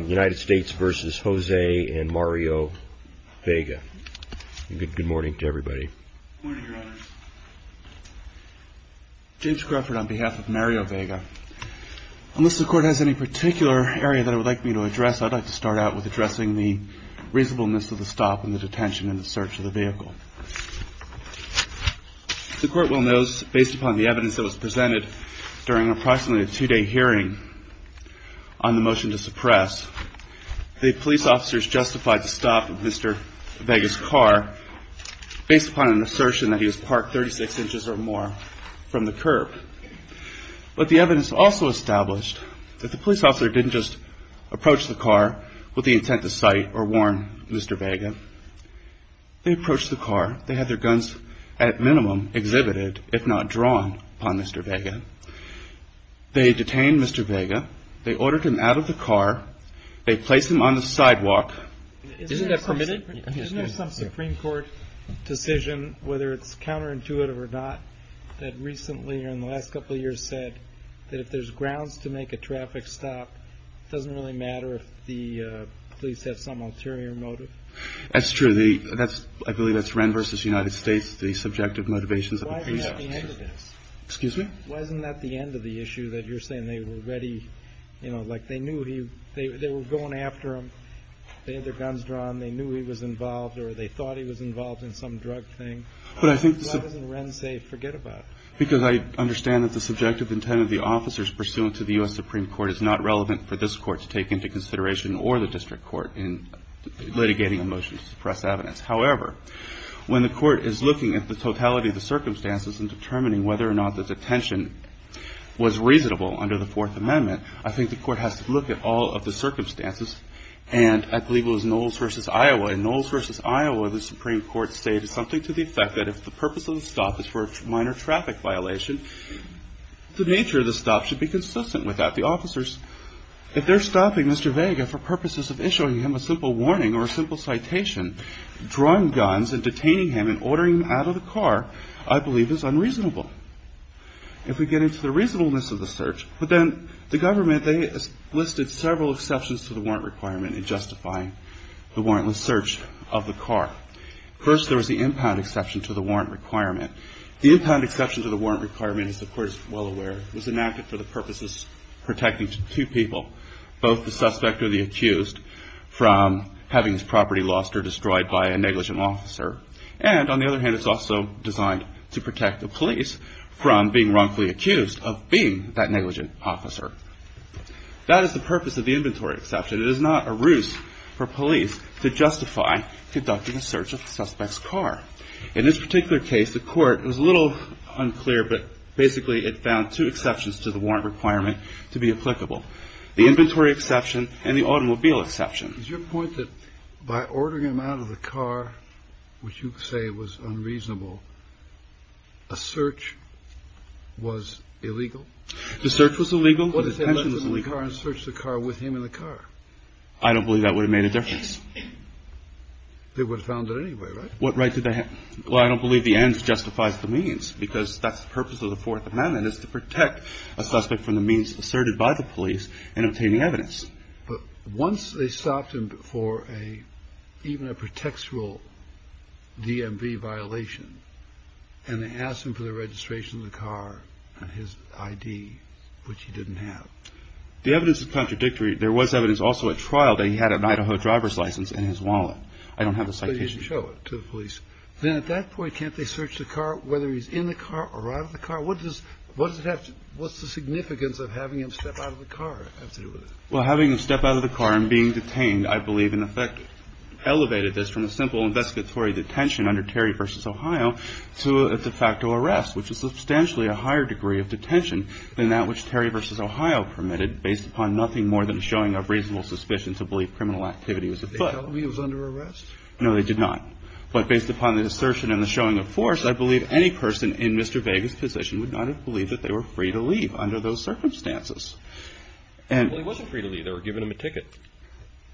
United States v. Jose and Mario Vega. Good morning to everybody. Good morning, Your Honors. James Crawford on behalf of Mario Vega. Unless the Court has any particular area that I would like me to address, I'd like to start out with addressing the reasonableness of the stop and the detention and the search of the vehicle. The Court will notice, based upon the evidence that was presented during approximately a two-day hearing on the motion to suppress, the police officers justified the stop of Mr. Vega's car based upon an assertion that he was parked 36 inches or more from the curb. But the evidence also established that the police officer didn't just approach the car with the intent to cite or warn Mr. Vega. They approached the car. They had their guns at minimum exhibited, if not drawn, upon Mr. Vega. They detained Mr. Vega. They ordered him out of the car. They placed him on the sidewalk. Isn't that permitted? Isn't there some Supreme Court decision, whether it's counterintuitive or not, that recently or in the last couple of years said that if there's grounds to make a traffic stop, it doesn't really matter if the police have some ulterior motive? That's true. That's – I believe that's Wren v. United States, the subjective motivations of the police. Why isn't that the end of this? Excuse me? Why isn't that the end of the issue that you're saying they were ready, you know, like they knew he – they were going after him. They had their guns drawn. They knew he was involved, or they thought he was involved in some drug thing. But I think the – Why doesn't Wren say forget about it? Because I understand that the subjective intent of the officers pursuant to the U.S. Supreme Court is not relevant for this Court to take into consideration or the district court in litigating a motion to suppress evidence. However, when the court is looking at the totality of the circumstances and determining whether or not the detention was reasonable under the Fourth Amendment, I think the court has to look at all of the circumstances, and I believe it was Knowles v. Iowa. In Knowles v. Iowa, the Supreme Court stated something to the effect that if the purpose of the stop is for a minor traffic violation, the nature of the stop should be consistent with that. So the officers, if they're stopping Mr. Vega for purposes of issuing him a simple warning or a simple citation, drawing guns and detaining him and ordering him out of the car, I believe is unreasonable. If we get into the reasonableness of the search, but then the government, they listed several exceptions to the warrant requirement in justifying the warrantless search of the car. First, there was the impound exception to the warrant requirement. The impound exception to the warrant requirement, as the court is well aware, was enacted for the purposes of protecting two people, both the suspect or the accused, from having his property lost or destroyed by a negligent officer. And on the other hand, it's also designed to protect the police from being wrongfully accused of being that negligent officer. That is the purpose of the inventory exception. It is not a ruse for police to justify conducting a search of the suspect's car. In this particular case, the court, it was a little unclear, but basically it found two exceptions to the warrant requirement to be applicable. The inventory exception and the automobile exception. Is your point that by ordering him out of the car, which you say was unreasonable, a search was illegal? The search was illegal. What if they left him in the car and searched the car with him in the car? I don't believe that would have made a difference. They would have found it anyway, right? What right did they have? Well, I don't believe the ends justifies the means, because that's the purpose of the Fourth Amendment, is to protect a suspect from the means asserted by the police in obtaining evidence. But once they stopped him for a, even a pretextual DMV violation, and they asked him for the registration of the car and his ID, which he didn't have. The evidence is contradictory. There was evidence also at trial that he had an Idaho driver's license in his wallet. I don't have the citation. So you didn't show it to the police. Then at that point, can't they search the car, whether he's in the car or out of the car? What does it have to do – what's the significance of having him step out of the car have to do with it? Well, having him step out of the car and being detained, I believe, in effect, elevated this from a simple investigatory detention under Terry v. Ohio to a de facto arrest, which is substantially a higher degree of detention than that which Terry v. Ohio permitted, based upon nothing more than a showing of reasonable suspicion to believe criminal activity was afoot. Did they tell him he was under arrest? No, they did not. But based upon the assertion and the showing of force, I believe any person in Mr. Vega's position would not have believed that they were free to leave under those circumstances. Well, he wasn't free to leave. They were giving him a ticket.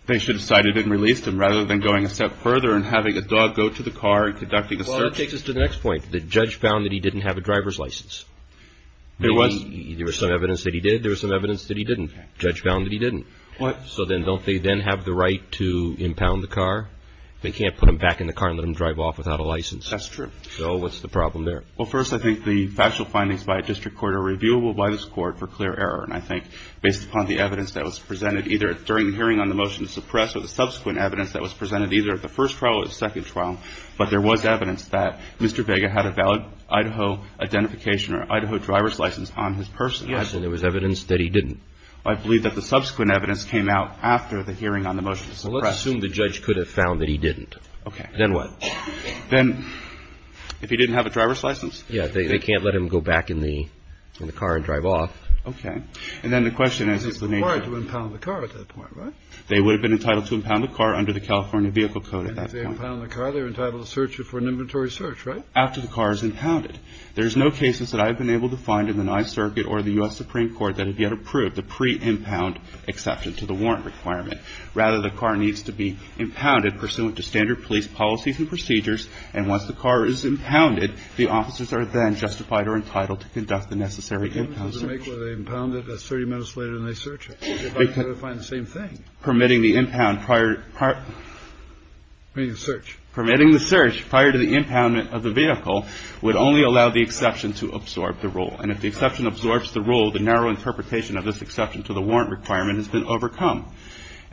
They should have cited him, released him, rather than going a step further and having a dog go to the car and conducting a search. Well, that takes us to the next point. The judge found that he didn't have a driver's license. There was some evidence that he did. There was some evidence that he didn't. The judge found that he didn't. What? So then don't they then have the right to impound the car? They can't put him back in the car and let him drive off without a license. That's true. So what's the problem there? Well, first, I think the factual findings by a district court are reviewable by this court for clear error. And I think based upon the evidence that was presented either during the hearing on the motion to suppress or the subsequent evidence that was presented either at the first trial or the second trial, but there was evidence that Mr. Vega had a valid Idaho identification or Idaho driver's license on his person. Yes, and there was evidence that he didn't. I believe that the subsequent evidence came out after the hearing on the motion to suppress. Well, let's assume the judge could have found that he didn't. Okay. Then what? Then if he didn't have a driver's license? Yes. They can't let him go back in the car and drive off. Okay. And then the question is, is the nature of the car at that point, right? They would have been entitled to impound the car under the California Vehicle Code at that point. And if they impound the car, they're entitled to search it for an inventory search, right? After the car is impounded. There's no cases that I've been able to find in the Ninth Circuit or the U.S. Supreme Court that have yet approved the pre-impound exception to the warrant requirement. Rather, the car needs to be impounded pursuant to standard police policies and procedures, and once the car is impounded, the officers are then justified or entitled to conduct the necessary impound search. If they impound it, that's 30 minutes later and they search it. They're about to go to find the same thing. Permitting the impound prior to the impoundment of the vehicle would only allow the exception to absorb the rule. And if the exception absorbs the rule, the narrow interpretation of this exception to the warrant requirement has been overcome.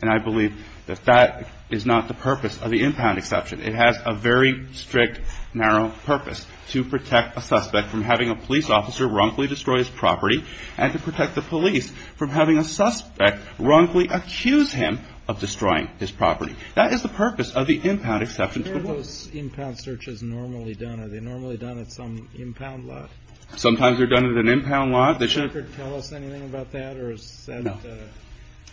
And I believe that that is not the purpose of the impound exception. It has a very strict, narrow purpose to protect a suspect from having a police officer wrongfully destroy his property and to protect the police from having a suspect wrongfully accuse him of destroying his property. Kennedy. Sometimes they're done at an impound lot. They shouldn't tell us anything about that.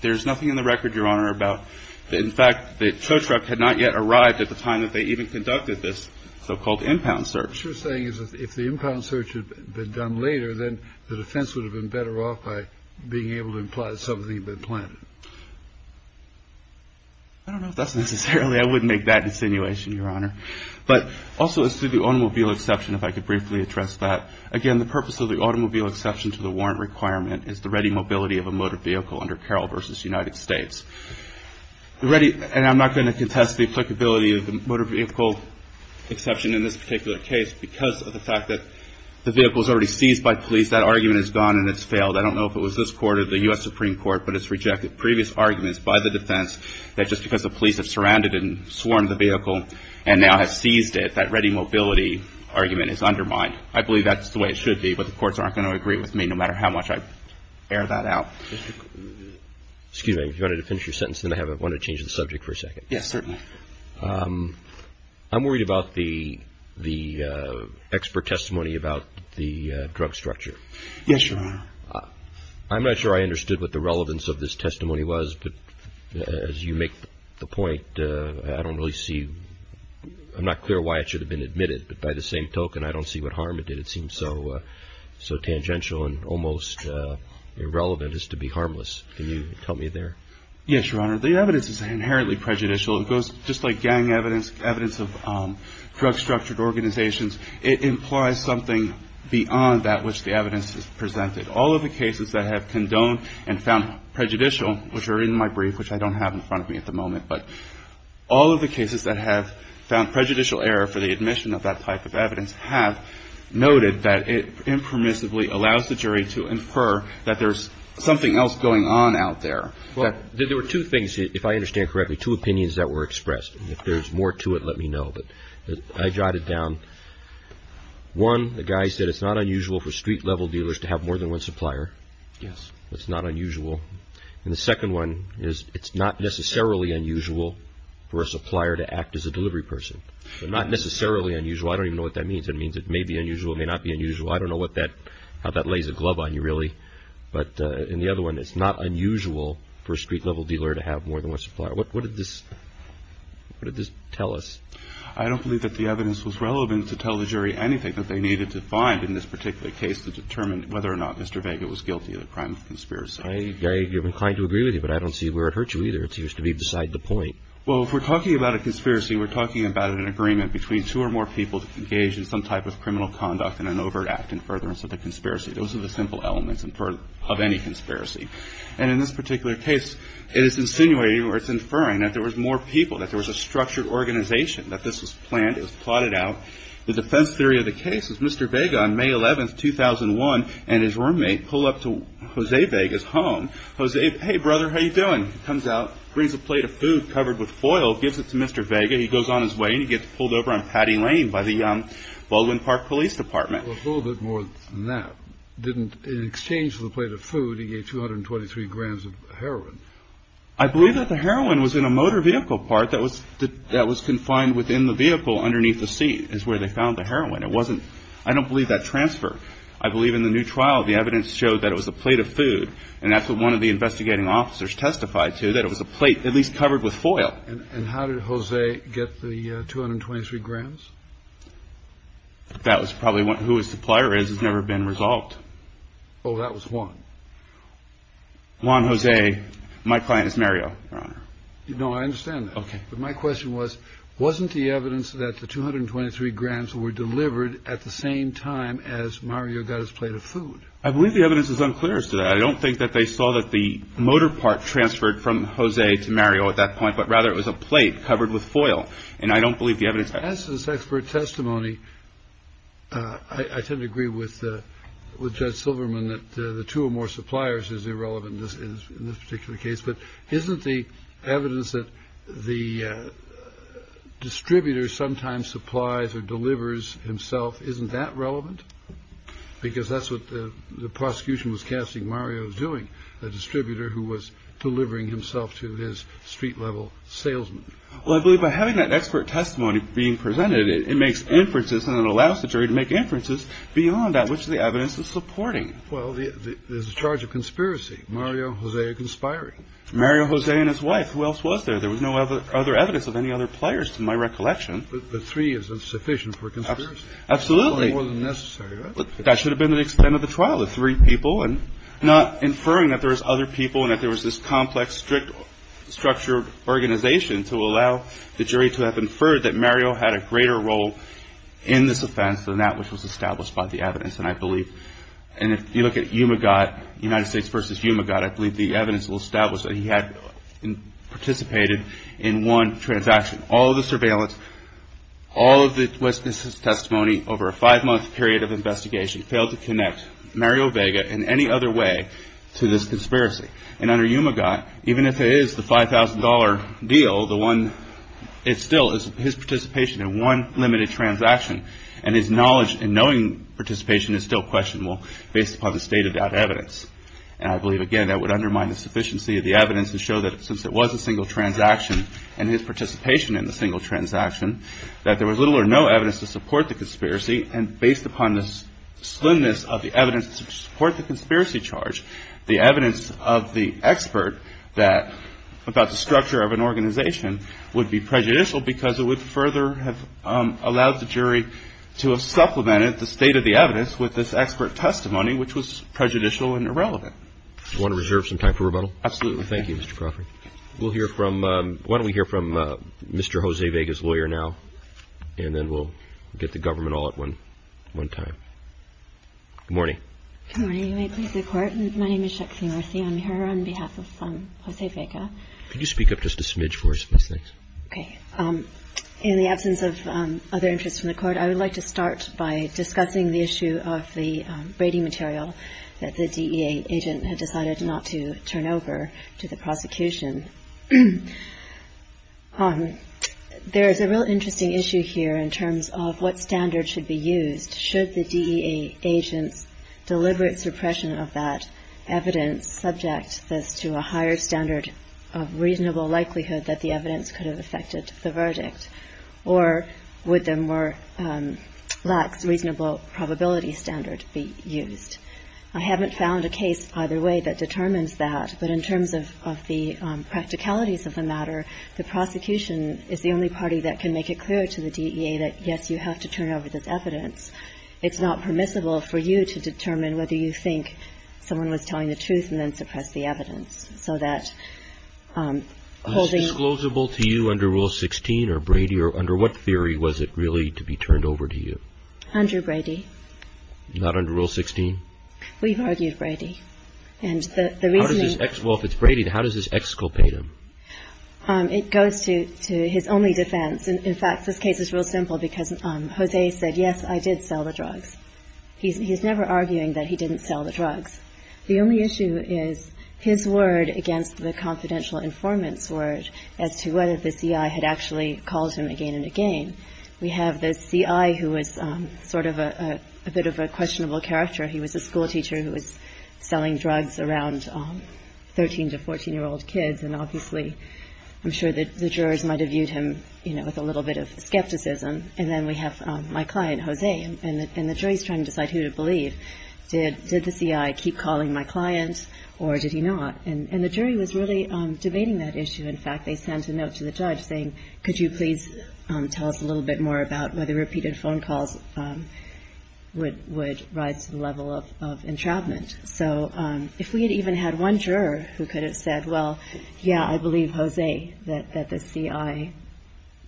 There's nothing in the record, Your Honor, about that. In fact, the tow truck had not yet arrived at the time that they even conducted this so-called impound search. What you're saying is if the impound search had been done later, then the defense would have been better off by being able to imply something had been planted. I don't know if that's necessarily – I wouldn't make that insinuation, Your Honor. But also as to the automobile exception, if I could briefly address that. Again, the purpose of the automobile exception to the warrant requirement is the ready mobility of a motor vehicle under Carroll v. United States. And I'm not going to contest the applicability of the motor vehicle exception in this particular case because of the fact that the vehicle is already seized by police. That argument is gone and it's failed. I don't know if it was this court or the U.S. Supreme Court, but it's rejected previous arguments by the defense that just because the police have surrounded and swarmed the vehicle and now have seized it, that ready mobility argument is undermined. I believe that's the way it should be, but the courts aren't going to agree with me no matter how much I air that out. Excuse me. If you wanted to finish your sentence, then I want to change the subject for a second. Yes, certainly. I'm worried about the expert testimony about the drug structure. Yes, Your Honor. I'm not sure I understood what the relevance of this testimony was, but as you make the point, I don't really see, I'm not clear why it should have been admitted, but by the same token, I don't see what harm it did. It seems so tangential and almost irrelevant as to be harmless. Can you tell me there? Yes, Your Honor. The evidence is inherently prejudicial. It goes just like gang evidence, evidence of drug-structured organizations. It implies something beyond that which the evidence has presented. All of the cases that have condoned and found prejudicial, which are in my brief, which I don't have in front of me at the moment, but all of the cases that have found prejudicial error for the admission of that type of evidence have noted that it impermissibly allows the jury to infer that there's something else going on out there. There were two things, if I understand correctly, two opinions that were expressed. If there's more to it, let me know, but I jotted it down. One, the guy said it's not unusual for street-level dealers to have more than one supplier. Yes. It's not unusual. And the second one is it's not necessarily unusual for a supplier to act as a delivery person. Not necessarily unusual, I don't even know what that means. It means it may be unusual, it may not be unusual. I don't know how that lays a glove on you, really. But in the other one, it's not unusual for a street-level dealer to have more than one supplier. What did this tell us? I don't believe that the evidence was relevant to tell the jury anything that they needed to find in this particular case to determine whether or not Mr. Vega was guilty of the crime of conspiracy. I'm inclined to agree with you, but I don't see where it hurt you, either. It seems to me beside the point. Well, if we're talking about a conspiracy, we're talking about an agreement between two or more people to engage in some type of criminal conduct in an overt act in furtherance of the conspiracy. Those are the simple elements of any conspiracy. And in this particular case, it is insinuating or it's inferring that there was more people, that there was a structured organization, that this was planned, it was plotted out. The defense theory of the case is Mr. Vega on May 11, 2001, and his roommate pull up to Jose Vega's home. Jose, hey, brother, how you doing? Comes out, brings a plate of food covered with foil, gives it to Mr. Vega. He goes on his way, and he gets pulled over on Patty Lane by the Baldwin Park Police Department. Well, a little bit more than that. In exchange for the plate of food, he gave 223 grams of heroin. I believe that the heroin was in a motor vehicle part that was confined within the vehicle underneath the seat, is where they found the heroin. I don't believe that transferred. I believe in the new trial, the evidence showed that it was a plate of food, and that's what one of the investigating officers testified to, that it was a plate at least covered with foil. And how did Jose get the 223 grams? That was probably who his supplier is. It's never been resolved. Oh, that was Juan. Juan Jose, my client is Mario, Your Honor. No, I understand that. Okay. But my question was, wasn't the evidence that the 223 grams were delivered at the same time as Mario got his plate of food? I believe the evidence is unclear as to that. I don't think that they saw that the motor part transferred from Jose to Mario at that point, but rather it was a plate covered with foil, and I don't believe the evidence. As to this expert testimony, I tend to agree with Judge Silverman that the two or more suppliers is irrelevant in this particular case. But isn't the evidence that the distributor sometimes supplies or delivers himself, isn't that relevant? Because that's what the prosecution was casting Mario as doing, the distributor who was delivering himself to his street-level salesman. Well, I believe by having that expert testimony being presented, it makes inferences and it allows the jury to make inferences beyond that which the evidence is supporting. Well, there's a charge of conspiracy. Mario and Jose are conspiring. Mario Jose and his wife. Who else was there? There was no other evidence of any other players to my recollection. But three is insufficient for a conspiracy. Absolutely. More than necessary. That should have been the extent of the trial, the three people, and not inferring that there was other people and that there was this complex, strict structured organization to allow the jury to have inferred that Mario had a greater role in this offense than that which was established by the evidence. And I believe, and if you look at UMAGOT, United States versus UMAGOT, I believe the evidence will establish that he had participated in one transaction. All of the surveillance, all of the witness's testimony over a five-month period of investigation failed to connect Mario Vega in any other way to this conspiracy. And under UMAGOT, even if it is the $5,000 deal, the one, it still is his participation in one limited transaction. And his knowledge and knowing participation is still questionable based upon the state-of-the-art evidence. And I believe, again, that would undermine the sufficiency of the evidence and show that since it was a single transaction and his participation in the single transaction, that there was little or no evidence to support the conspiracy. And based upon the slimness of the evidence to support the conspiracy charge, the evidence of the expert about the structure of an organization would be prejudicial because it would further have allowed the jury to have supplemented the state-of-the-evidence with this expert testimony, which was prejudicial and irrelevant. Do you want to reserve some time for rebuttal? Absolutely. Thank you, Mr. Crawford. Why don't we hear from Mr. Jose Vega's lawyer now, and then we'll get the government all at one time. Good morning. Good morning. May it please the Court. My name is Shexley Marcy. I'm here on behalf of Jose Vega. Can you speak up just a smidge for us, please? Okay. In the absence of other interest from the Court, I would like to start by discussing the issue of the braiding material that the DEA agent had decided not to turn over to the prosecution. There is a real interesting issue here in terms of what standard should be used. Should the DEA agent's deliberate suppression of that evidence subject this to a higher standard of reasonable likelihood that the evidence could have affected the verdict, or would the more lax reasonable probability standard be used? I haven't found a case either way that determines that, but in terms of the practicalities of the matter, the prosecution is the only party that can make it clear to the DEA that, yes, you have to turn over this evidence. It's not permissible for you to determine whether you think someone was telling the truth and then suppress the evidence. So that holding – Was this disclosable to you under Rule 16 or Brady, or under what theory was it really to be turned over to you? Under Brady. Not under Rule 16? We've argued Brady. Well, if it's Brady, how does this exculpate him? It goes to his only defense. In fact, this case is real simple because Jose said, yes, I did sell the drugs. He's never arguing that he didn't sell the drugs. The only issue is his word against the confidential informant's word as to whether the CI had actually called him again and again. We have the CI who was sort of a bit of a questionable character. He was a schoolteacher who was selling drugs around 13- to 14-year-old kids, and obviously I'm sure that the jurors might have viewed him, you know, with a little bit of skepticism. And then we have my client, Jose, and the jury is trying to decide who to believe. Did the CI keep calling my client or did he not? And the jury was really debating that issue. In fact, they sent a note to the judge saying, could you please tell us a little bit more about whether repeated phone calls would rise to the level of entrapment? So if we had even had one juror who could have said, well, yeah, I believe Jose, that the CI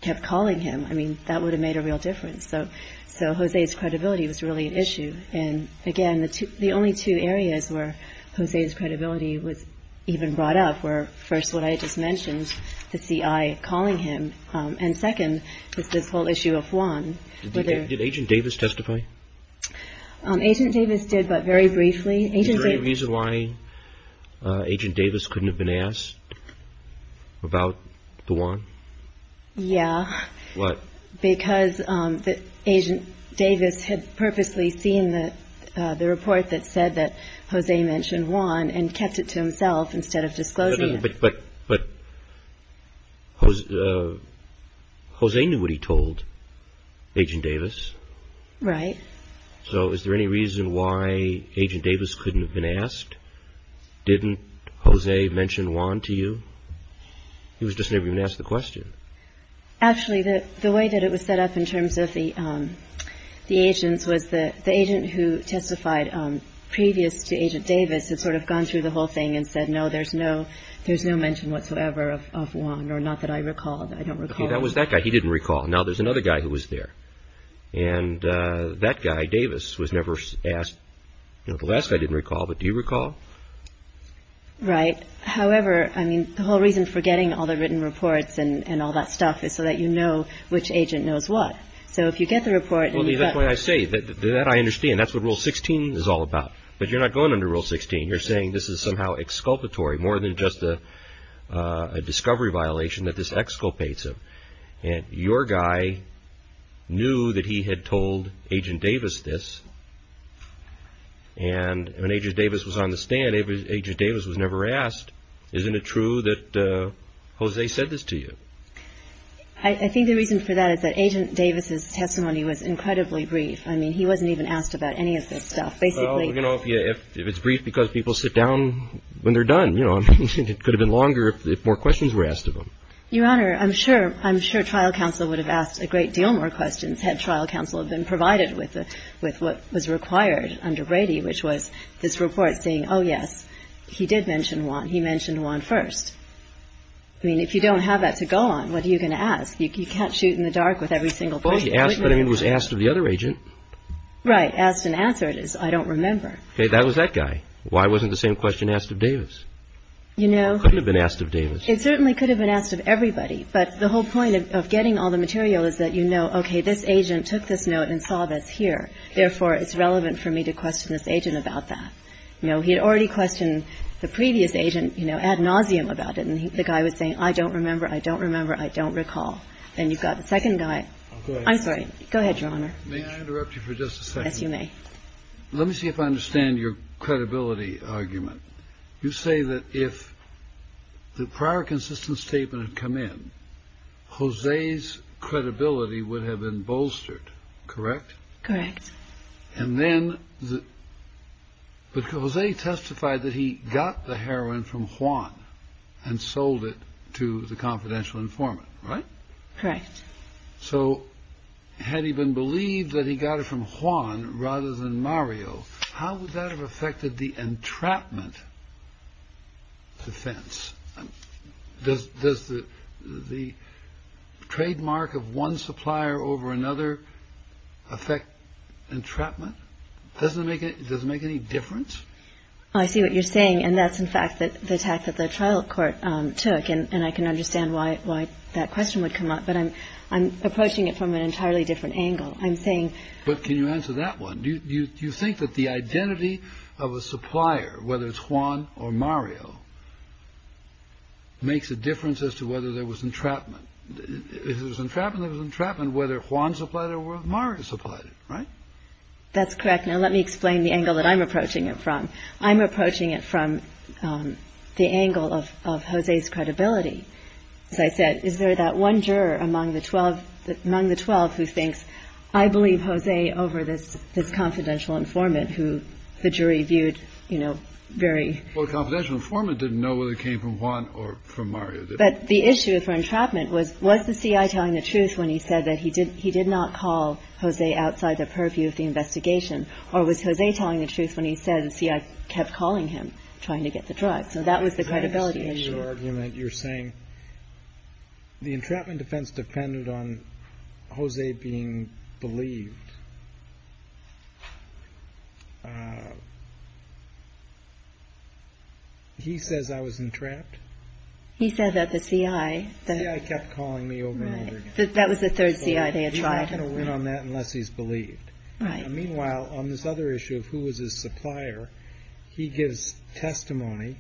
kept calling him, I mean, that would have made a real difference. So Jose's credibility was really an issue. And, again, the only two areas where Jose's credibility was even brought up were, first, what I just mentioned, the CI calling him, and, second, this whole issue of Juan. Did Agent Davis testify? Agent Davis did, but very briefly. Is there any reason why Agent Davis couldn't have been asked about the Juan? Yeah. What? Because Agent Davis had purposely seen the report that said that Jose mentioned Juan and kept it to himself instead of disclosing it. But Jose knew what he told Agent Davis. Right. So is there any reason why Agent Davis couldn't have been asked? Didn't Jose mention Juan to you? He was just never even asked the question. Actually, the way that it was set up in terms of the agents was the agent who testified previous to Agent Davis had sort of gone through the whole thing and said, no, there's no mention whatsoever of Juan, or not that I recall, that I don't recall. Okay. That was that guy. He didn't recall. Now there's another guy who was there. And that guy, Davis, was never asked. The last guy didn't recall, but do you recall? Right. However, I mean, the whole reason for getting all the written reports and all that stuff is so that you know which agent knows what. So if you get the report and you've got... And you're saying this is somehow exculpatory, more than just a discovery violation that this exculpates him. And your guy knew that he had told Agent Davis this. And when Agent Davis was on the stand, Agent Davis was never asked. Isn't it true that Jose said this to you? I think the reason for that is that Agent Davis's testimony was incredibly brief. I mean, he wasn't even asked about any of this stuff. Well, you know, if it's brief because people sit down when they're done, you know. I mean, it could have been longer if more questions were asked of him. Your Honor, I'm sure trial counsel would have asked a great deal more questions had trial counsel been provided with what was required under Brady, which was this report saying, oh, yes, he did mention Juan. He mentioned Juan first. I mean, if you don't have that to go on, what are you going to ask? You can't shoot in the dark with every single person. Well, he was asked of the other agent. Right. And the reason why I asked and answered is I don't remember. That was that guy. Why wasn't the same question asked of Davis? You know. Couldn't have been asked of Davis. It certainly could have been asked of everybody. But the whole point of getting all the material is that you know, okay, this agent took this note and saw this here. Therefore, it's relevant for me to question this agent about that. You know, he had already questioned the previous agent, you know, ad nauseum about it. And the guy was saying, I don't remember. I don't remember. I don't recall. And you've got the second guy. I'm sorry. Go ahead, Your Honor. May I interrupt you for just a second? Yes, you may. Let me see if I understand your credibility argument. You say that if the prior consistent statement had come in, Jose's credibility would have been bolstered. Correct? Correct. And then Jose testified that he got the heroin from Juan and sold it to the confidential informant. Right? Correct. So had he been believed that he got it from Juan rather than Mario, how would that have affected the entrapment defense? Does the trademark of one supplier over another affect entrapment? Does it make any difference? I see what you're saying. And that's, in fact, the attack that the trial court took. And I can understand why that question would come up. But I'm approaching it from an entirely different angle. I'm saying. But can you answer that one? Do you think that the identity of a supplier, whether it's Juan or Mario, makes a difference as to whether there was entrapment? If there was entrapment, there was entrapment whether Juan supplied it or Mario supplied it. Right? That's correct. Now, let me explain the angle that I'm approaching it from. I'm approaching it from the angle of Jose's credibility. As I said, is there that one juror among the 12 who thinks, I believe Jose over this confidential informant who the jury viewed, you know, very. Well, the confidential informant didn't know whether it came from Juan or from Mario. But the issue for entrapment was, was the C.I. telling the truth when he said that he did not call Jose outside the purview of the investigation? Or was Jose telling the truth when he said the C.I. kept calling him trying to get the drug? So that was the credibility issue. In your argument, you're saying the entrapment defense depended on Jose being believed. He says I was entrapped. He said that the C.I. The C.I. kept calling me over and over again. That was the third C.I. they had tried. He's not going to win on that unless he's believed. Right. Meanwhile, on this other issue of who was his supplier, he gives testimony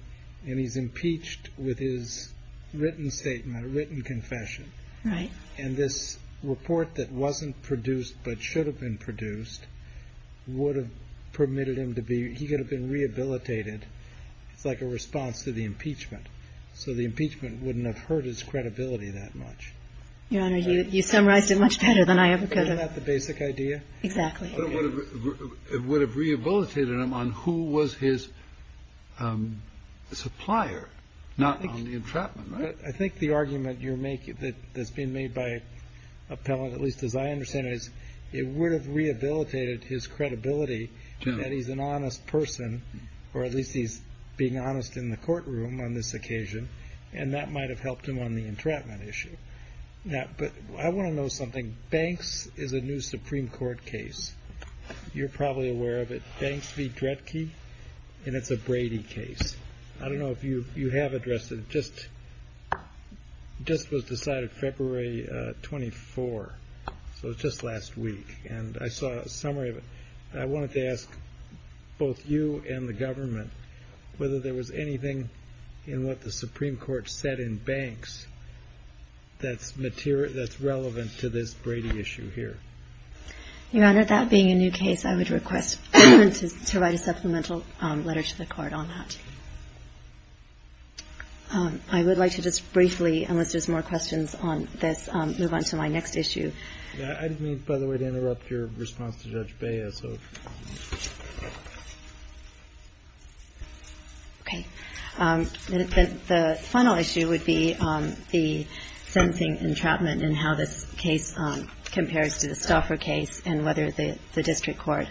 and he's impeached with his written statement, written confession. Right. And this report that wasn't produced but should have been produced would have permitted him to be, he could have been rehabilitated. It's like a response to the impeachment. So the impeachment wouldn't have hurt his credibility that much. Your Honor, you summarized it much better than I ever could have. Isn't that the basic idea? Exactly. It would have rehabilitated him on who was his supplier, not on the entrapment, right? I think the argument you're making that's being made by appellant, at least as I understand it, is it would have rehabilitated his credibility that he's an honest person, or at least he's being honest in the courtroom on this occasion. And that might have helped him on the entrapment issue. But I want to know something. Banks is a new Supreme Court case. You're probably aware of it. Banks v. Dredke, and it's a Brady case. I don't know if you have addressed it. It just was decided February 24, so it was just last week. And I saw a summary of it. I wanted to ask both you and the government whether there was anything in what the Supreme Court said in Banks that's relevant to this Brady issue here. Your Honor, that being a new case, I would request to write a supplemental letter to the court on that. I would like to just briefly, unless there's more questions on this, move on to my next issue. I didn't mean, by the way, to interrupt your response to Judge Baez. Okay. The final issue would be the sensing entrapment and how this case compares to the Stauffer case and whether the district court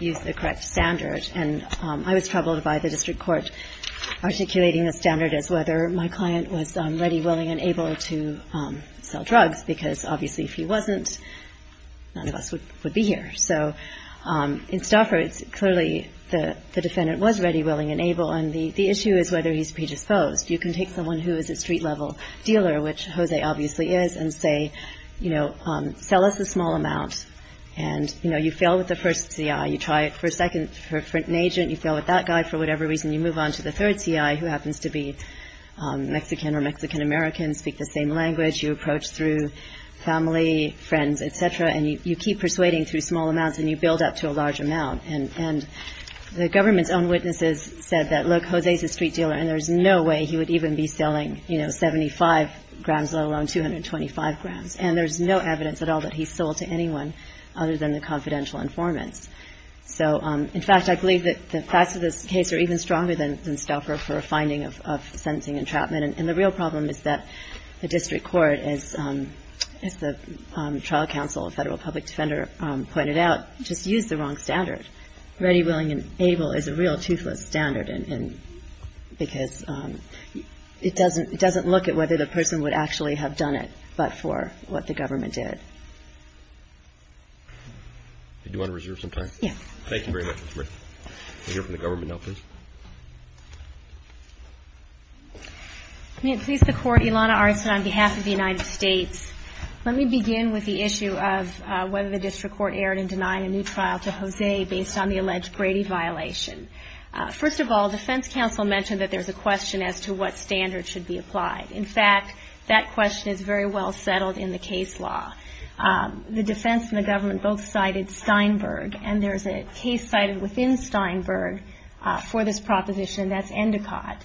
used the correct standard. And I was troubled by the district court articulating the standard as whether my client was ready, willing, and able to sell drugs because, obviously, if he wasn't, none of us would be here. So in Stauffer, it's clearly the defendant was ready, willing, and able. And the issue is whether he's predisposed. You can take someone who is a street-level dealer, which Jose obviously is, and say, you know, sell us a small amount. And, you know, you fail with the first CI. You try it for a second for an agent. You fail with that guy. For whatever reason, you move on to the third CI, who happens to be Mexican or Mexican-American, speak the same language. You approach through family, friends, et cetera. And you keep persuading through small amounts, and you build up to a large amount. And the government's own witnesses said that, look, Jose's a street dealer, and there's no way he would even be selling, you know, 75 grams, let alone 225 grams. And there's no evidence at all that he sold to anyone other than the confidential informants. So, in fact, I believe that the facts of this case are even stronger than Stauffer for a finding of sentencing entrapment. And the real problem is that the district court, as the trial counsel, a federal public defender, pointed out, just used the wrong standard. Ready, willing, and able is a real toothless standard because it doesn't look at whether the person would actually have done it, but for what the government did. Did you want to reserve some time? Yes. Thank you very much, Ms. Merritt. We'll hear from the government now, please. May it please the Court, Ilana Arsen on behalf of the United States. Let me begin with the issue of whether the district court erred in denying a new trial to Jose based on the alleged Brady violation. First of all, defense counsel mentioned that there's a question as to what standard should be applied. In fact, that question is very well settled in the case law. The defense and the government both cited Steinberg, and there's a case cited within Steinberg for this proposition. That's Endicott.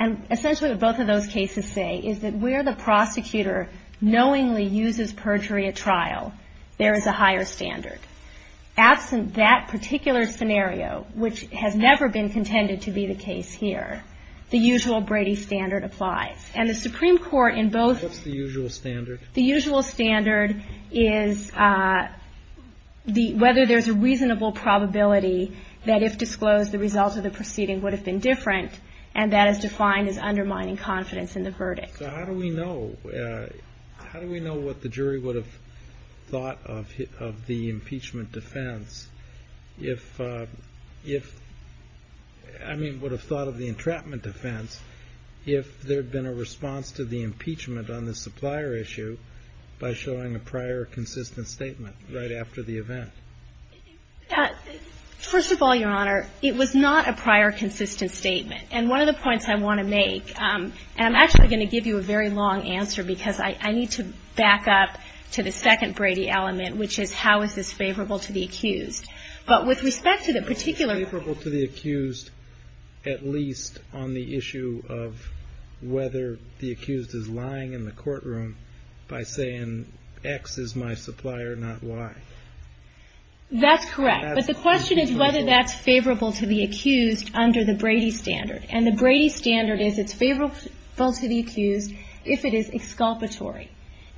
And essentially, what both of those cases say is that where the prosecutor knowingly uses perjury at trial, there is a higher standard. Absent that particular scenario, which has never been contended to be the case here, the usual Brady standard applies. And the Supreme Court in both the usual standard. Is the whether there's a reasonable probability that if disclosed, the results of the proceeding would have been different. And that is defined as undermining confidence in the verdict. So how do we know? How do we know what the jury would have thought of the impeachment defense? If, I mean, would have thought of the entrapment defense if there had been a response to the impeachment on the supplier issue by showing a prior consistent statement right after the event? First of all, Your Honor, it was not a prior consistent statement. And one of the points I want to make, and I'm actually going to give you a very long answer, because I need to back up to the second Brady element, which is how is this favorable to the accused? But with respect to the particular Favorable to the accused, at least on the issue of whether the accused is lying in the courtroom by saying, X is my supplier, not Y. That's correct. But the question is whether that's favorable to the accused under the Brady standard. And the Brady standard is it's favorable to the accused if it is exculpatory.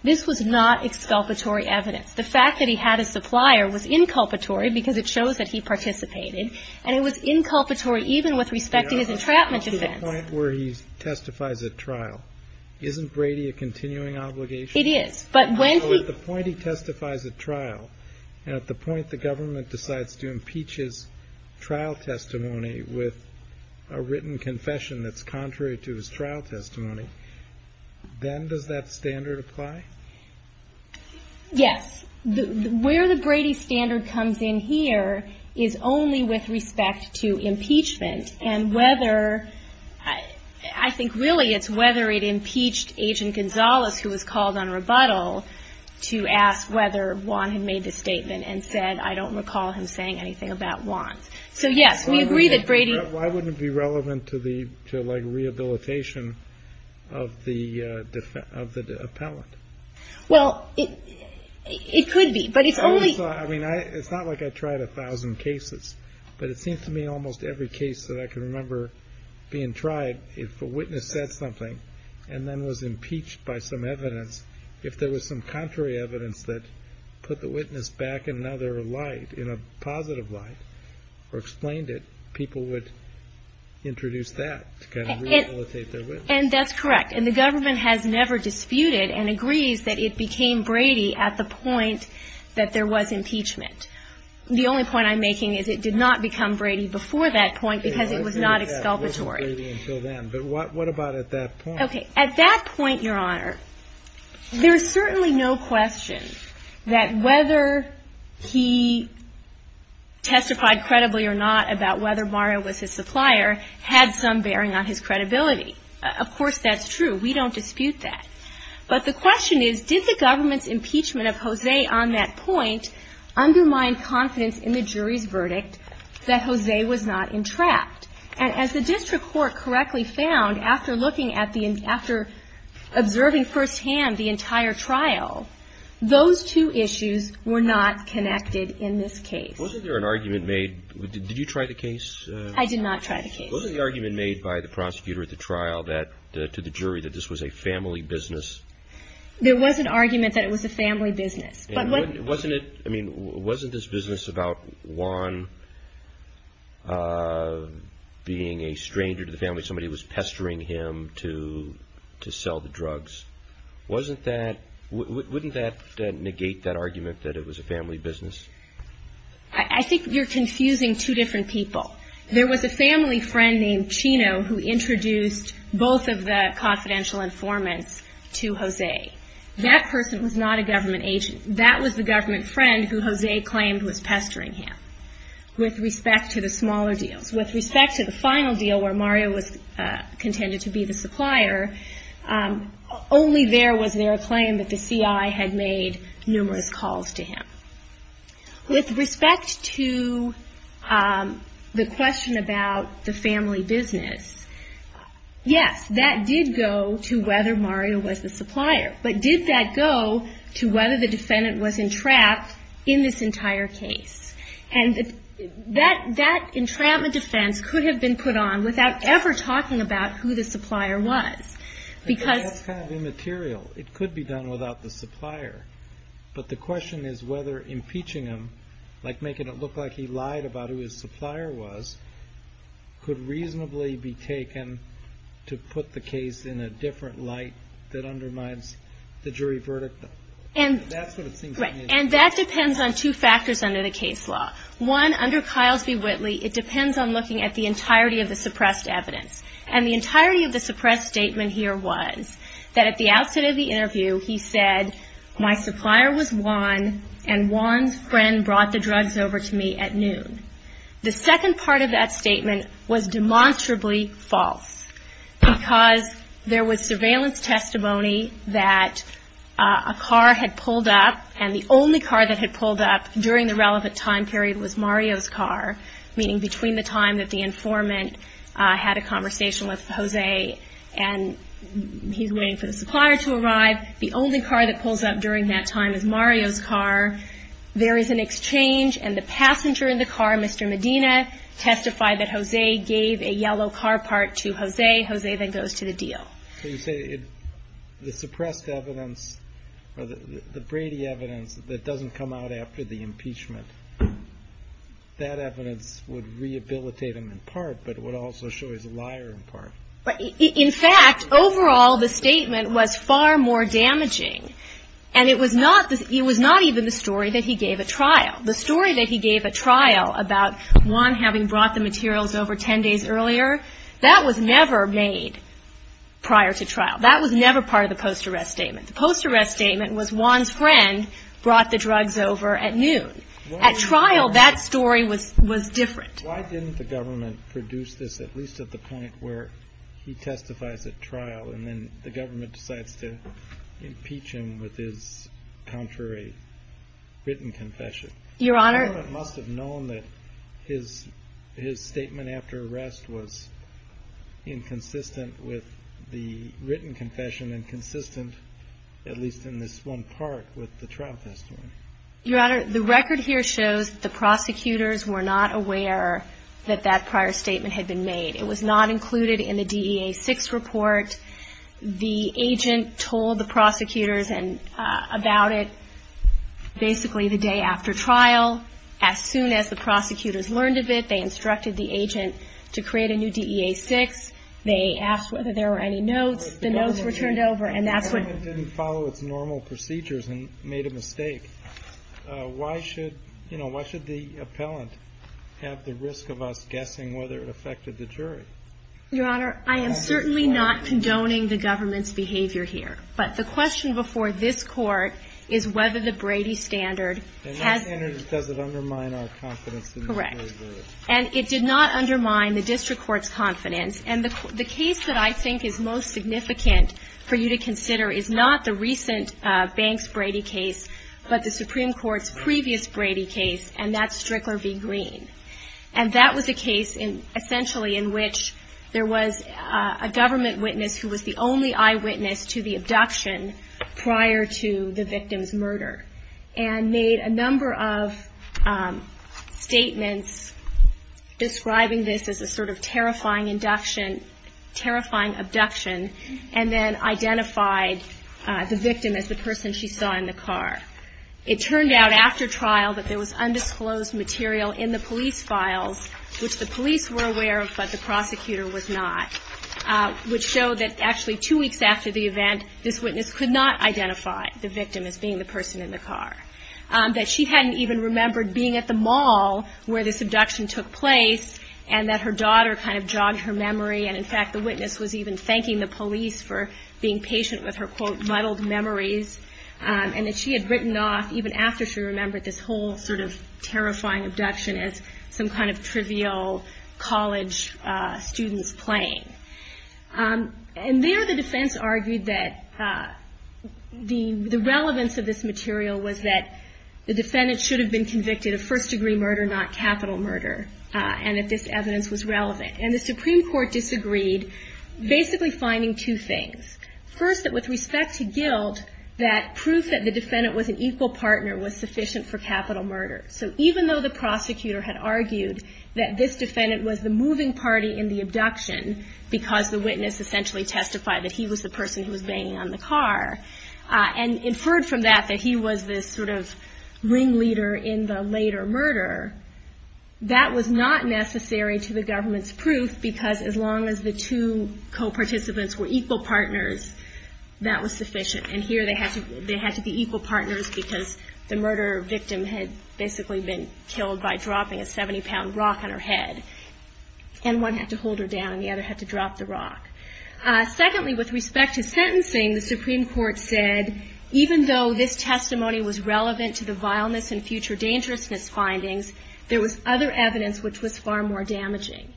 This was not exculpatory evidence. The fact that he had a supplier was inculpatory because it shows that he participated. And it was inculpatory even with respect to his entrapment defense. Your Honor, this is the point where he testifies at trial. Isn't Brady a continuing obligation? It is. But when he So at the point he testifies at trial, and at the point the government decides to impeach his trial testimony with a written confession that's contrary to his trial testimony, then does that standard apply? Yes. Where the Brady standard comes in here is only with respect to impeachment and whether I think really it's whether it impeached Agent Gonzalez, who was called on rebuttal, to ask whether Wan had made the statement and said, I don't recall him saying anything about Wan. So, yes, we agree that Brady Why wouldn't it be relevant to the rehabilitation of the appellant? Well, it could be, but it's only I mean, it's not like I tried a thousand cases, but it seems to me almost every case that I can remember being tried, if a witness said something and then was impeached by some evidence, if there was some contrary evidence that put the witness back in another light, in a positive light, or explained it, people would introduce that to kind of rehabilitate their witness. And that's correct. And the government has never disputed and agrees that it became Brady at the point that there was impeachment. The only point I'm making is it did not become Brady before that point because it was not exculpatory. But what about at that point? Okay. At that point, Your Honor, there's certainly no question that whether he testified credibly or not about whether Mario was his supplier had some bearing on his credibility. Of course, that's true. We don't dispute that. But the question is, did the government's impeachment of Jose on that point undermine confidence in the jury's verdict that Jose was not entrapped? And as the district court correctly found after looking at the – after observing firsthand the entire trial, those two issues were not connected in this case. Wasn't there an argument made – did you try the case? I did not try the case. Wasn't the argument made by the prosecutor at the trial that – to the jury that this was a family business? There was an argument that it was a family business. Wasn't it – I mean, wasn't this business about Juan being a stranger to the family? Somebody was pestering him to sell the drugs. Wasn't that – wouldn't that negate that argument that it was a family business? I think you're confusing two different people. There was a family friend named Chino who introduced both of the confidential informants to Jose. That person was not a government agent. That was the government friend who Jose claimed was pestering him with respect to the smaller deals. With respect to the final deal where Mario was contended to be the supplier, only there was there a claim that the CI had made numerous calls to him. With respect to the question about the family business, yes, that did go to whether Mario was the supplier. But did that go to whether the defendant was entrapped in this entire case? And that entrapment defense could have been put on without ever talking about who the supplier was. That's kind of immaterial. It could be done without the supplier. But the question is whether impeaching him, like making it look like he lied about who his supplier was, could reasonably be taken to put the case in a different light that undermines the jury verdict. That's what it seems to me. And that depends on two factors under the case law. One, under Kiles v. Whitley, it depends on looking at the entirety of the suppressed evidence. And the entirety of the suppressed statement here was that at the outset of the interview he said, my supplier was Juan, and Juan's friend brought the drugs over to me at noon. The second part of that statement was demonstrably false, because there was surveillance testimony that a car had pulled up, and the only car that had pulled up during the relevant time period was Mario's car, meaning between the time that the informant had a conversation with Jose and he's waiting for the supplier to arrive. The only car that pulls up during that time is Mario's car. There is an exchange, and the passenger in the car, Mr. Medina, testified that Jose gave a yellow car part to Jose. Jose then goes to the deal. So you say the suppressed evidence or the Brady evidence that doesn't come out after the impeachment, that evidence would rehabilitate him in part, but it would also show he's a liar in part. In fact, overall, the statement was far more damaging, and it was not even the story that he gave at trial. The story that he gave at trial about Juan having brought the materials over 10 days earlier, that was never made prior to trial. That was never part of the post-arrest statement. The post-arrest statement was Juan's friend brought the drugs over at noon. At trial, that story was different. Why didn't the government produce this, at least at the point where he testifies at trial and then the government decides to impeach him with his contrary written confession? Your Honor. The government must have known that his statement after arrest was inconsistent with the written confession and consistent, at least in this one part, with the trial testimony. Your Honor, the record here shows the prosecutors were not aware that that prior statement had been made. It was not included in the DEA-6 report. The agent told the prosecutors about it basically the day after trial. As soon as the prosecutors learned of it, they instructed the agent to create a new DEA-6. They asked whether there were any notes. The notes were turned over, and that's when ---- But if the government didn't follow its normal procedures and made a mistake, why should, you know, why should the appellant have the risk of us guessing whether it affected the jury? Your Honor, I am certainly not condoning the government's behavior here. But the question before this Court is whether the Brady standard has ---- And that standard doesn't undermine our confidence in the jury. Correct. And it did not undermine the district court's confidence. And the case that I think is most significant for you to consider is not the recent Banks-Brady case, but the Supreme Court's previous Brady case, and that's Strickler v. Green. And that was a case, essentially, in which there was a government witness who was the only eyewitness to the abduction prior to the victim's murder, and made a number of statements describing this as a sort of terrifying induction, terrifying abduction, and then identified the victim as the person she saw in the car. It turned out after trial that there was undisclosed material in the police files, which the police were aware of but the prosecutor was not, and this witness could not identify the victim as being the person in the car. That she hadn't even remembered being at the mall where this abduction took place, and that her daughter kind of jogged her memory, and in fact the witness was even thanking the police for being patient with her, quote, muddled memories. And that she had written off, even after she remembered this whole sort of terrifying abduction, as some kind of trivial college student's playing. And there the defense argued that the relevance of this material was that the defendant should have been convicted of first degree murder, not capital murder, and that this evidence was relevant. And the Supreme Court disagreed, basically finding two things. First, that with respect to guilt, that proof that the defendant was an equal partner was sufficient for capital murder. So even though the prosecutor had argued that this defendant was the moving party in the abduction, because the witness essentially testified that he was the person who was banging on the car, and inferred from that that he was this sort of ringleader in the later murder, that was not necessary to the government's proof, because as long as the two co-participants were equal partners, that was sufficient. And here they had to be equal partners, because the murder victim had basically been killed by dropping a 70-pound rock on her head, and one had to hold her down and the other had to drop the rock. Secondly, with respect to sentencing, the Supreme Court said, even though this testimony was relevant to the vileness and future dangerousness findings, there was other evidence which was far more damaging.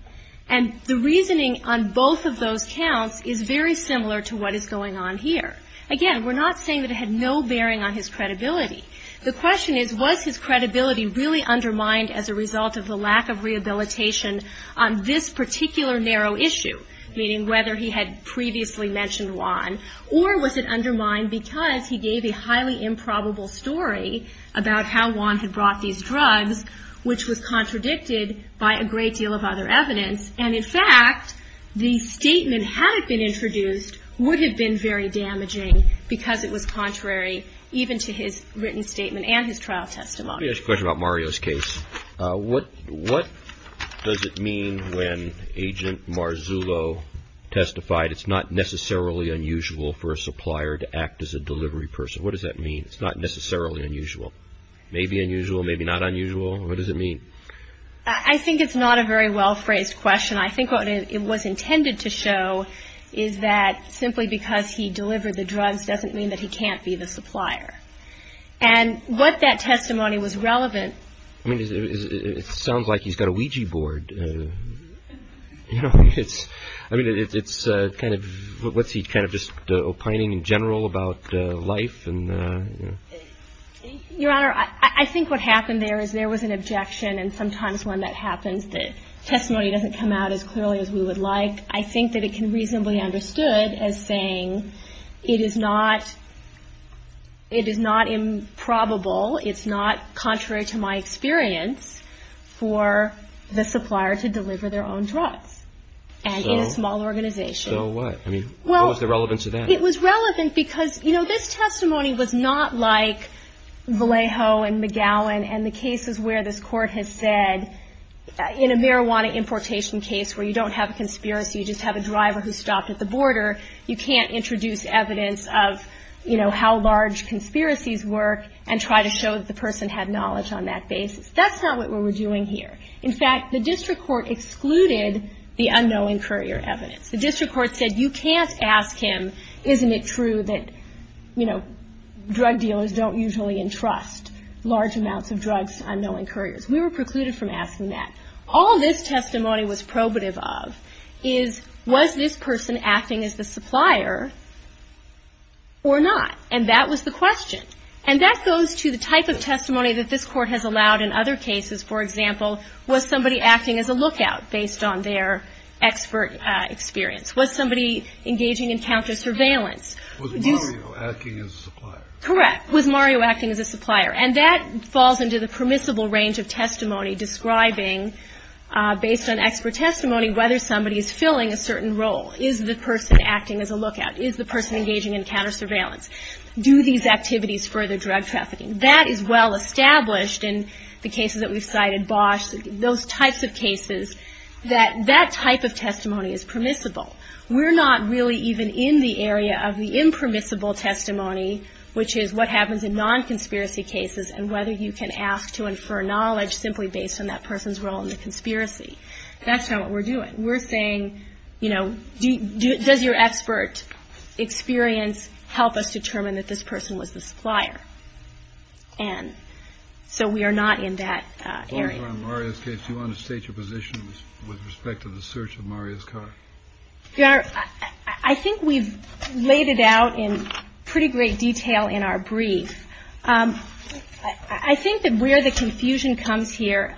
And the reasoning on both of those counts is very similar to what is going on here. Again, we're not saying that it had no bearing on his credibility. The question is, was his credibility really undermined as a result of the lack of rehabilitation on this particular narrow issue, meaning whether he had previously mentioned Juan, or was it undermined because he gave a highly improbable story about how Juan had brought these drugs, which was contradicted by a great deal of other evidence. And in fact, the statement, had it been introduced, would have been very damaging because it was contrary even to his written statement and his trial testimony. Let me ask you a question about Mario's case. What does it mean when Agent Marzullo testified, it's not necessarily unusual for a supplier to act as a delivery person? What does that mean, it's not necessarily unusual? Maybe unusual, maybe not unusual? What does it mean? I think it's not a very well phrased question. I think what it was intended to show is that simply because he delivered the drugs doesn't mean that he can't be the supplier. And what that testimony was relevant. I mean, it sounds like he's got a Ouija board. I mean, it's kind of, what's he kind of just opining in general about life? Your Honor, I think what happened there is there was an objection, and sometimes when that happens the testimony doesn't come out as clearly as we would like. I think that it can reasonably be understood as saying it is not improbable, it's not contrary to my experience for the supplier to deliver their own drugs. And in a small organization. So what? I mean, what was the relevance of that? It was relevant because, you know, this testimony was not like Vallejo and McGowan and the cases where this court has said in a marijuana importation case where you don't have a conspiracy, you just have a driver who stopped at the border, you can't introduce evidence of, you know, how large conspiracies work and try to show that the person had knowledge on that basis. That's not what we were doing here. In fact, the district court excluded the unknowing courier evidence. The district court said you can't ask him, isn't it true that, you know, drug dealers don't usually entrust large amounts of drugs to unknowing couriers? We were precluded from asking that. All this testimony was probative of is was this person acting as the supplier or not? And that was the question. And that goes to the type of testimony that this court has allowed in other cases. For example, was somebody acting as a lookout based on their expert experience? Was somebody engaging in counter-surveillance? Was Mario acting as a supplier? Correct. Was Mario acting as a supplier? And that falls into the permissible range of testimony describing, based on expert testimony, whether somebody is filling a certain role. Is the person acting as a lookout? Is the person engaging in counter-surveillance? Do these activities further drug trafficking? That type of testimony is permissible. We're not really even in the area of the impermissible testimony, which is what happens in non-conspiracy cases and whether you can ask to infer knowledge simply based on that person's role in the conspiracy. That's not what we're doing. We're saying, you know, does your expert experience help us determine that this person was the supplier? And so we are not in that area. In Mario's case, do you want to state your position with respect to the search of Mario's car? Your Honor, I think we've laid it out in pretty great detail in our brief. I think that where the confusion comes here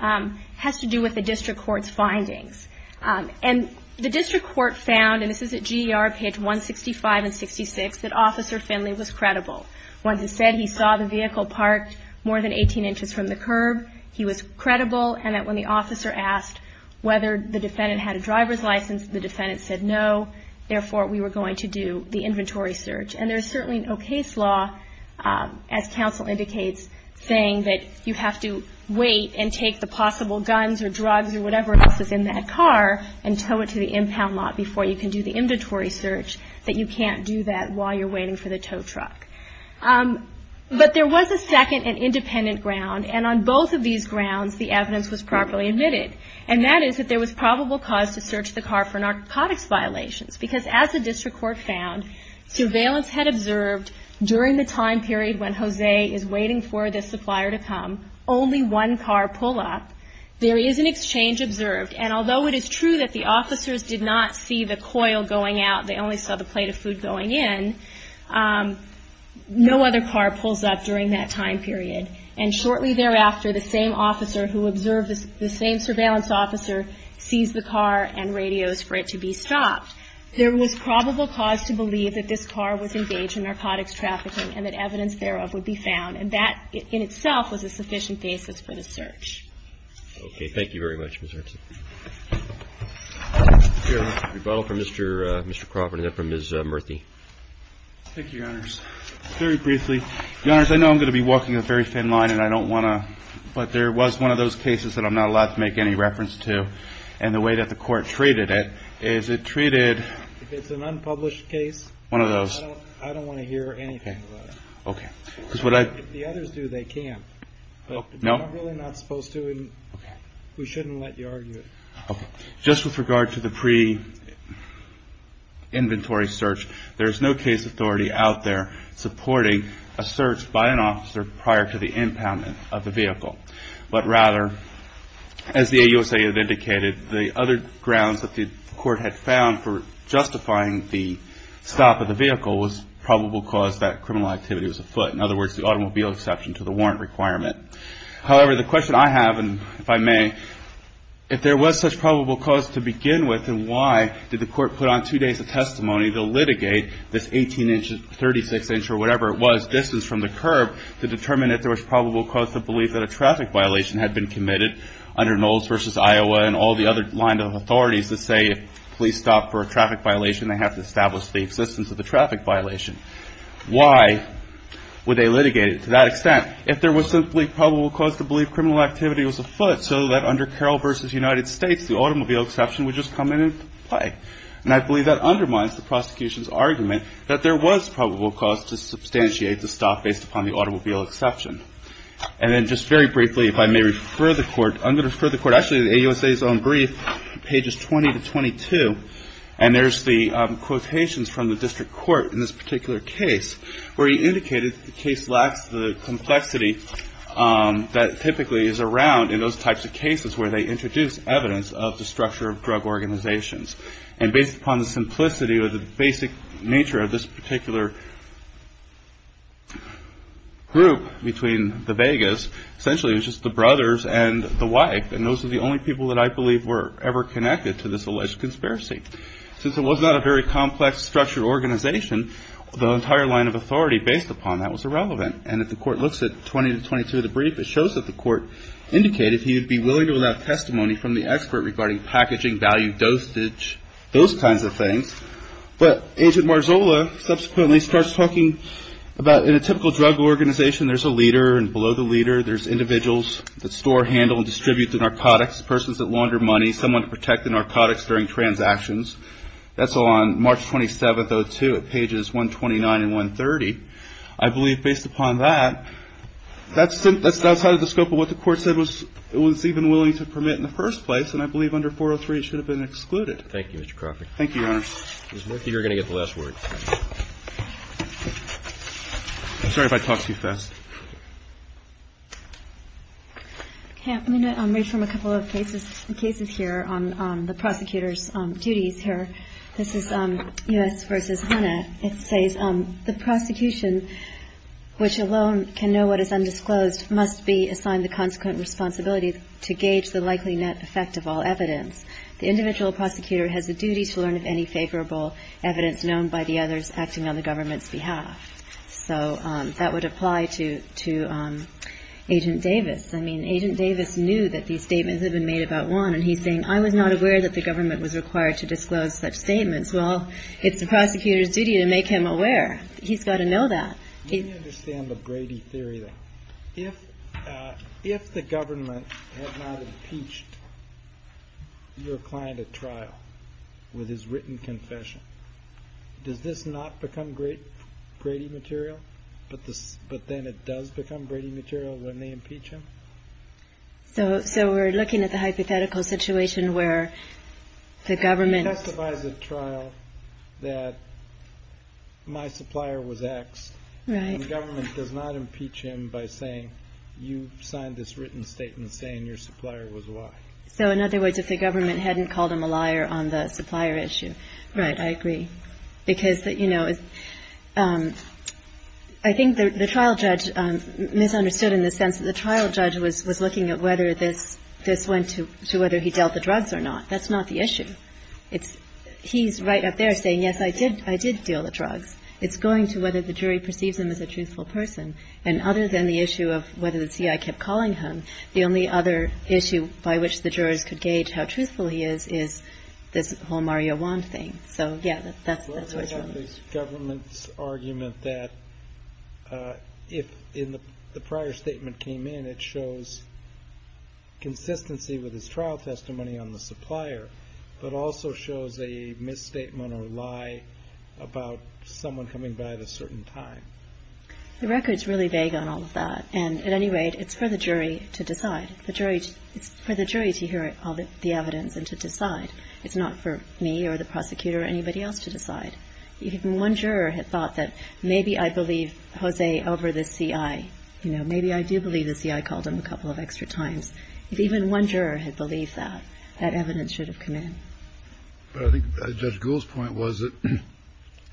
has to do with the district court's findings. And the district court found, and this is at GER, page 165 and 66, that Officer Finley was credible. Once he said he saw the vehicle parked more than 18 inches from the curb, he was credible and that when the officer asked whether the defendant had a driver's license, the defendant said no, therefore we were going to do the inventory search. And there's certainly no case law, as counsel indicates, saying that you have to wait and take the possible guns or drugs or whatever else is in that car and tow it to the impound lot before you can do the inventory search, that you can't do that while you're waiting for the tow truck. But there was a second and independent ground. And on both of these grounds, the evidence was properly admitted. And that is that there was probable cause to search the car for narcotics violations because as the district court found, surveillance had observed during the time period when Jose is waiting for the supplier to come, only one car pull up. There is an exchange observed. And although it is true that the officers did not see the coil going out, they only saw the plate of food going in, no other car pulls up during that time period. And shortly thereafter, the same officer who observed this, the same surveillance officer sees the car and radios for it to be stopped. There was probable cause to believe that this car was engaged in narcotics trafficking and that evidence thereof would be found. And that in itself was a sufficient basis for the search. Okay. Thank you very much, Ms. Erickson. Rebuttal from Mr. Crawford and then from Ms. Murthy. Thank you, Your Honors. Very briefly, Your Honors, I know I'm going to be walking a very thin line and I don't want to but there was one of those cases that I'm not allowed to make any reference to and the way that the court treated it is it treated If it's an unpublished case, I don't want to hear anything about it. Okay. If the others do, they can't. No. They're really not supposed to and we shouldn't let you argue it. Okay. Just with regard to the pre-inventory search, there is no case authority out there supporting a search by an officer prior to the impoundment of the vehicle. But rather, as the AUSA had indicated, the other grounds that the court had found for justifying the stop of the vehicle was probable cause that criminal activity was afoot. In other words, the automobile exception to the warrant requirement. However, the question I have, and if I may, if there was such probable cause to begin with, then why did the court put on two days of testimony to litigate this 18-inch, 36-inch or whatever it was, this is from the curb, to determine if there was probable cause to believe that a traffic violation had been committed under Knowles v. Iowa and all the other lines of authorities that say if police stop for a traffic violation, they have to establish the existence of the traffic violation. Why would they litigate it to that extent? If there was simply probable cause to believe criminal activity was afoot so that under Carroll v. United States, the automobile exception would just come into play. And I believe that undermines the prosecution's argument that there was probable cause to substantiate the stop based upon the automobile exception. And then just very briefly, if I may refer the court, I'm going to refer the court actually to the AUSA's own brief, pages 20 to 22, and there's the quotations from the district court in this particular case where he indicated the case lacks the complexity that typically is around in those types of cases where they introduce evidence of the structure of drug organizations. And based upon the simplicity or the basic nature of this particular group between the Vegas, essentially it was just the brothers and the wife, and those were the only people that I believe were ever connected to this alleged conspiracy. Since it was not a very complex, structured organization, the entire line of authority based upon that was irrelevant. And if the court looks at 20 to 22 of the brief, it shows that the court indicated he would be willing to allow testimony from the expert regarding packaging, value, dosage, those kinds of things. But Agent Marzola subsequently starts talking about in a typical drug organization, there's a leader, and below the leader there's individuals that store, handle, and distribute the narcotics, persons that launder money, someone to protect the narcotics during transactions. That's all on March 27th, 2002 at pages 129 and 130. I believe based upon that, that's outside of the scope of what the court said it was even willing to permit in the first place, and I believe under 403 it should have been excluded. Thank you, Mr. Crawford. Thank you, Your Honor. You're going to get the last word. I'm sorry if I talk too fast. Okay. I'm going to read from a couple of cases here on the prosecutor's duties here. This is U.S. v. Hunna. It says, The prosecution, which alone can know what is undisclosed, must be assigned the consequent responsibility to gauge the likely net effect of all evidence. The individual prosecutor has a duty to learn of any favorable evidence known by the others acting on the government's behalf. So that would apply to Agent Davis. I mean, Agent Davis knew that these statements had been made about Juan, and he's saying, I was not aware that the government was required to disclose such statements. Well, it's the prosecutor's duty to make him aware. He's got to know that. Let me understand the Brady theory then. If the government had not impeached your client at trial with his written confession, does this not become Brady material? But then it does become Brady material when they impeach him? So we're looking at the hypothetical situation where the government... He testifies at trial that my supplier was X. Right. And the government does not impeach him by saying, you signed this written statement saying your supplier was Y. So in other words, if the government hadn't called him a liar on the supplier issue, he wouldn't have been impeached. Right. I agree. Because, you know, I think the trial judge misunderstood in the sense that the trial judge was looking at whether this went to whether he dealt the drugs or not. That's not the issue. He's right up there saying, yes, I did deal the drugs. It's going to whether the jury perceives him as a truthful person. And other than the issue of whether the C.I. kept calling him, the only other issue by which the jurors could gauge how truthful he is, is this whole Mario Wand thing. So, yeah, that's what's wrong. What about this government's argument that if the prior statement came in, it shows consistency with his trial testimony on the supplier, but also shows a misstatement or lie about someone coming by at a certain time? The record's really vague on all of that. And at any rate, it's for the jury to decide. It's for the jury to hear all the evidence and to decide. It's not for me or the prosecutor or anybody else to decide. If even one juror had thought that maybe I believe Jose over the C.I. You know, maybe I do believe the C.I. called him a couple of extra times. If even one juror had believed that, that evidence should have come in. But I think Judge Gould's point was that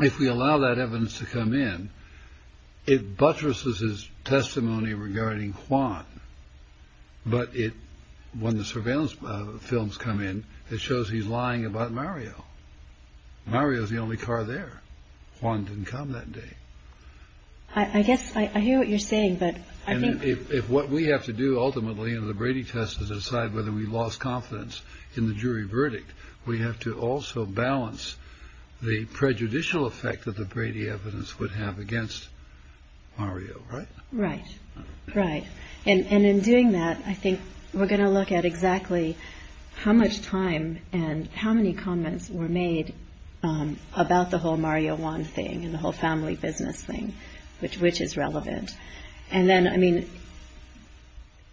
if we allow that evidence to come in, it buttresses his testimony regarding Juan. But when the surveillance films come in, it shows he's lying about Mario. Mario's the only car there. Juan didn't come that day. I guess I hear what you're saying, but I think. If what we have to do ultimately in the Brady test is decide whether we lost confidence in the jury verdict, we have to also balance the prejudicial effect that the Brady evidence would have against Mario, right? Right. Right. And in doing that, I think we're going to look at exactly how much time and how many comments were made about the whole Mario Juan thing and the whole family business thing, which is relevant. And then, I mean.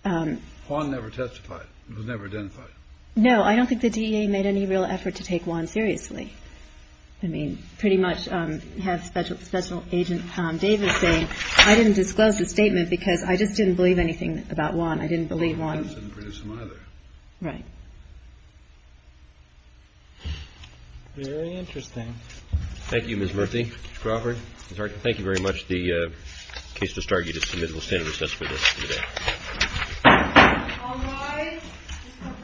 Juan never testified. He was never identified. No, I don't think the DEA made any real effort to take Juan seriously. I mean, pretty much have Special Agent Davis say, I didn't disclose the statement because I just didn't believe anything about Juan. I didn't believe Juan. The defense didn't produce him either. Right. Very interesting. Thank you, Ms. Murthy. Mr. Crawford. Thank you very much. The case is discharged. You're just admitted. We'll stand at recess for this. All rise. This court for the session is adjourned.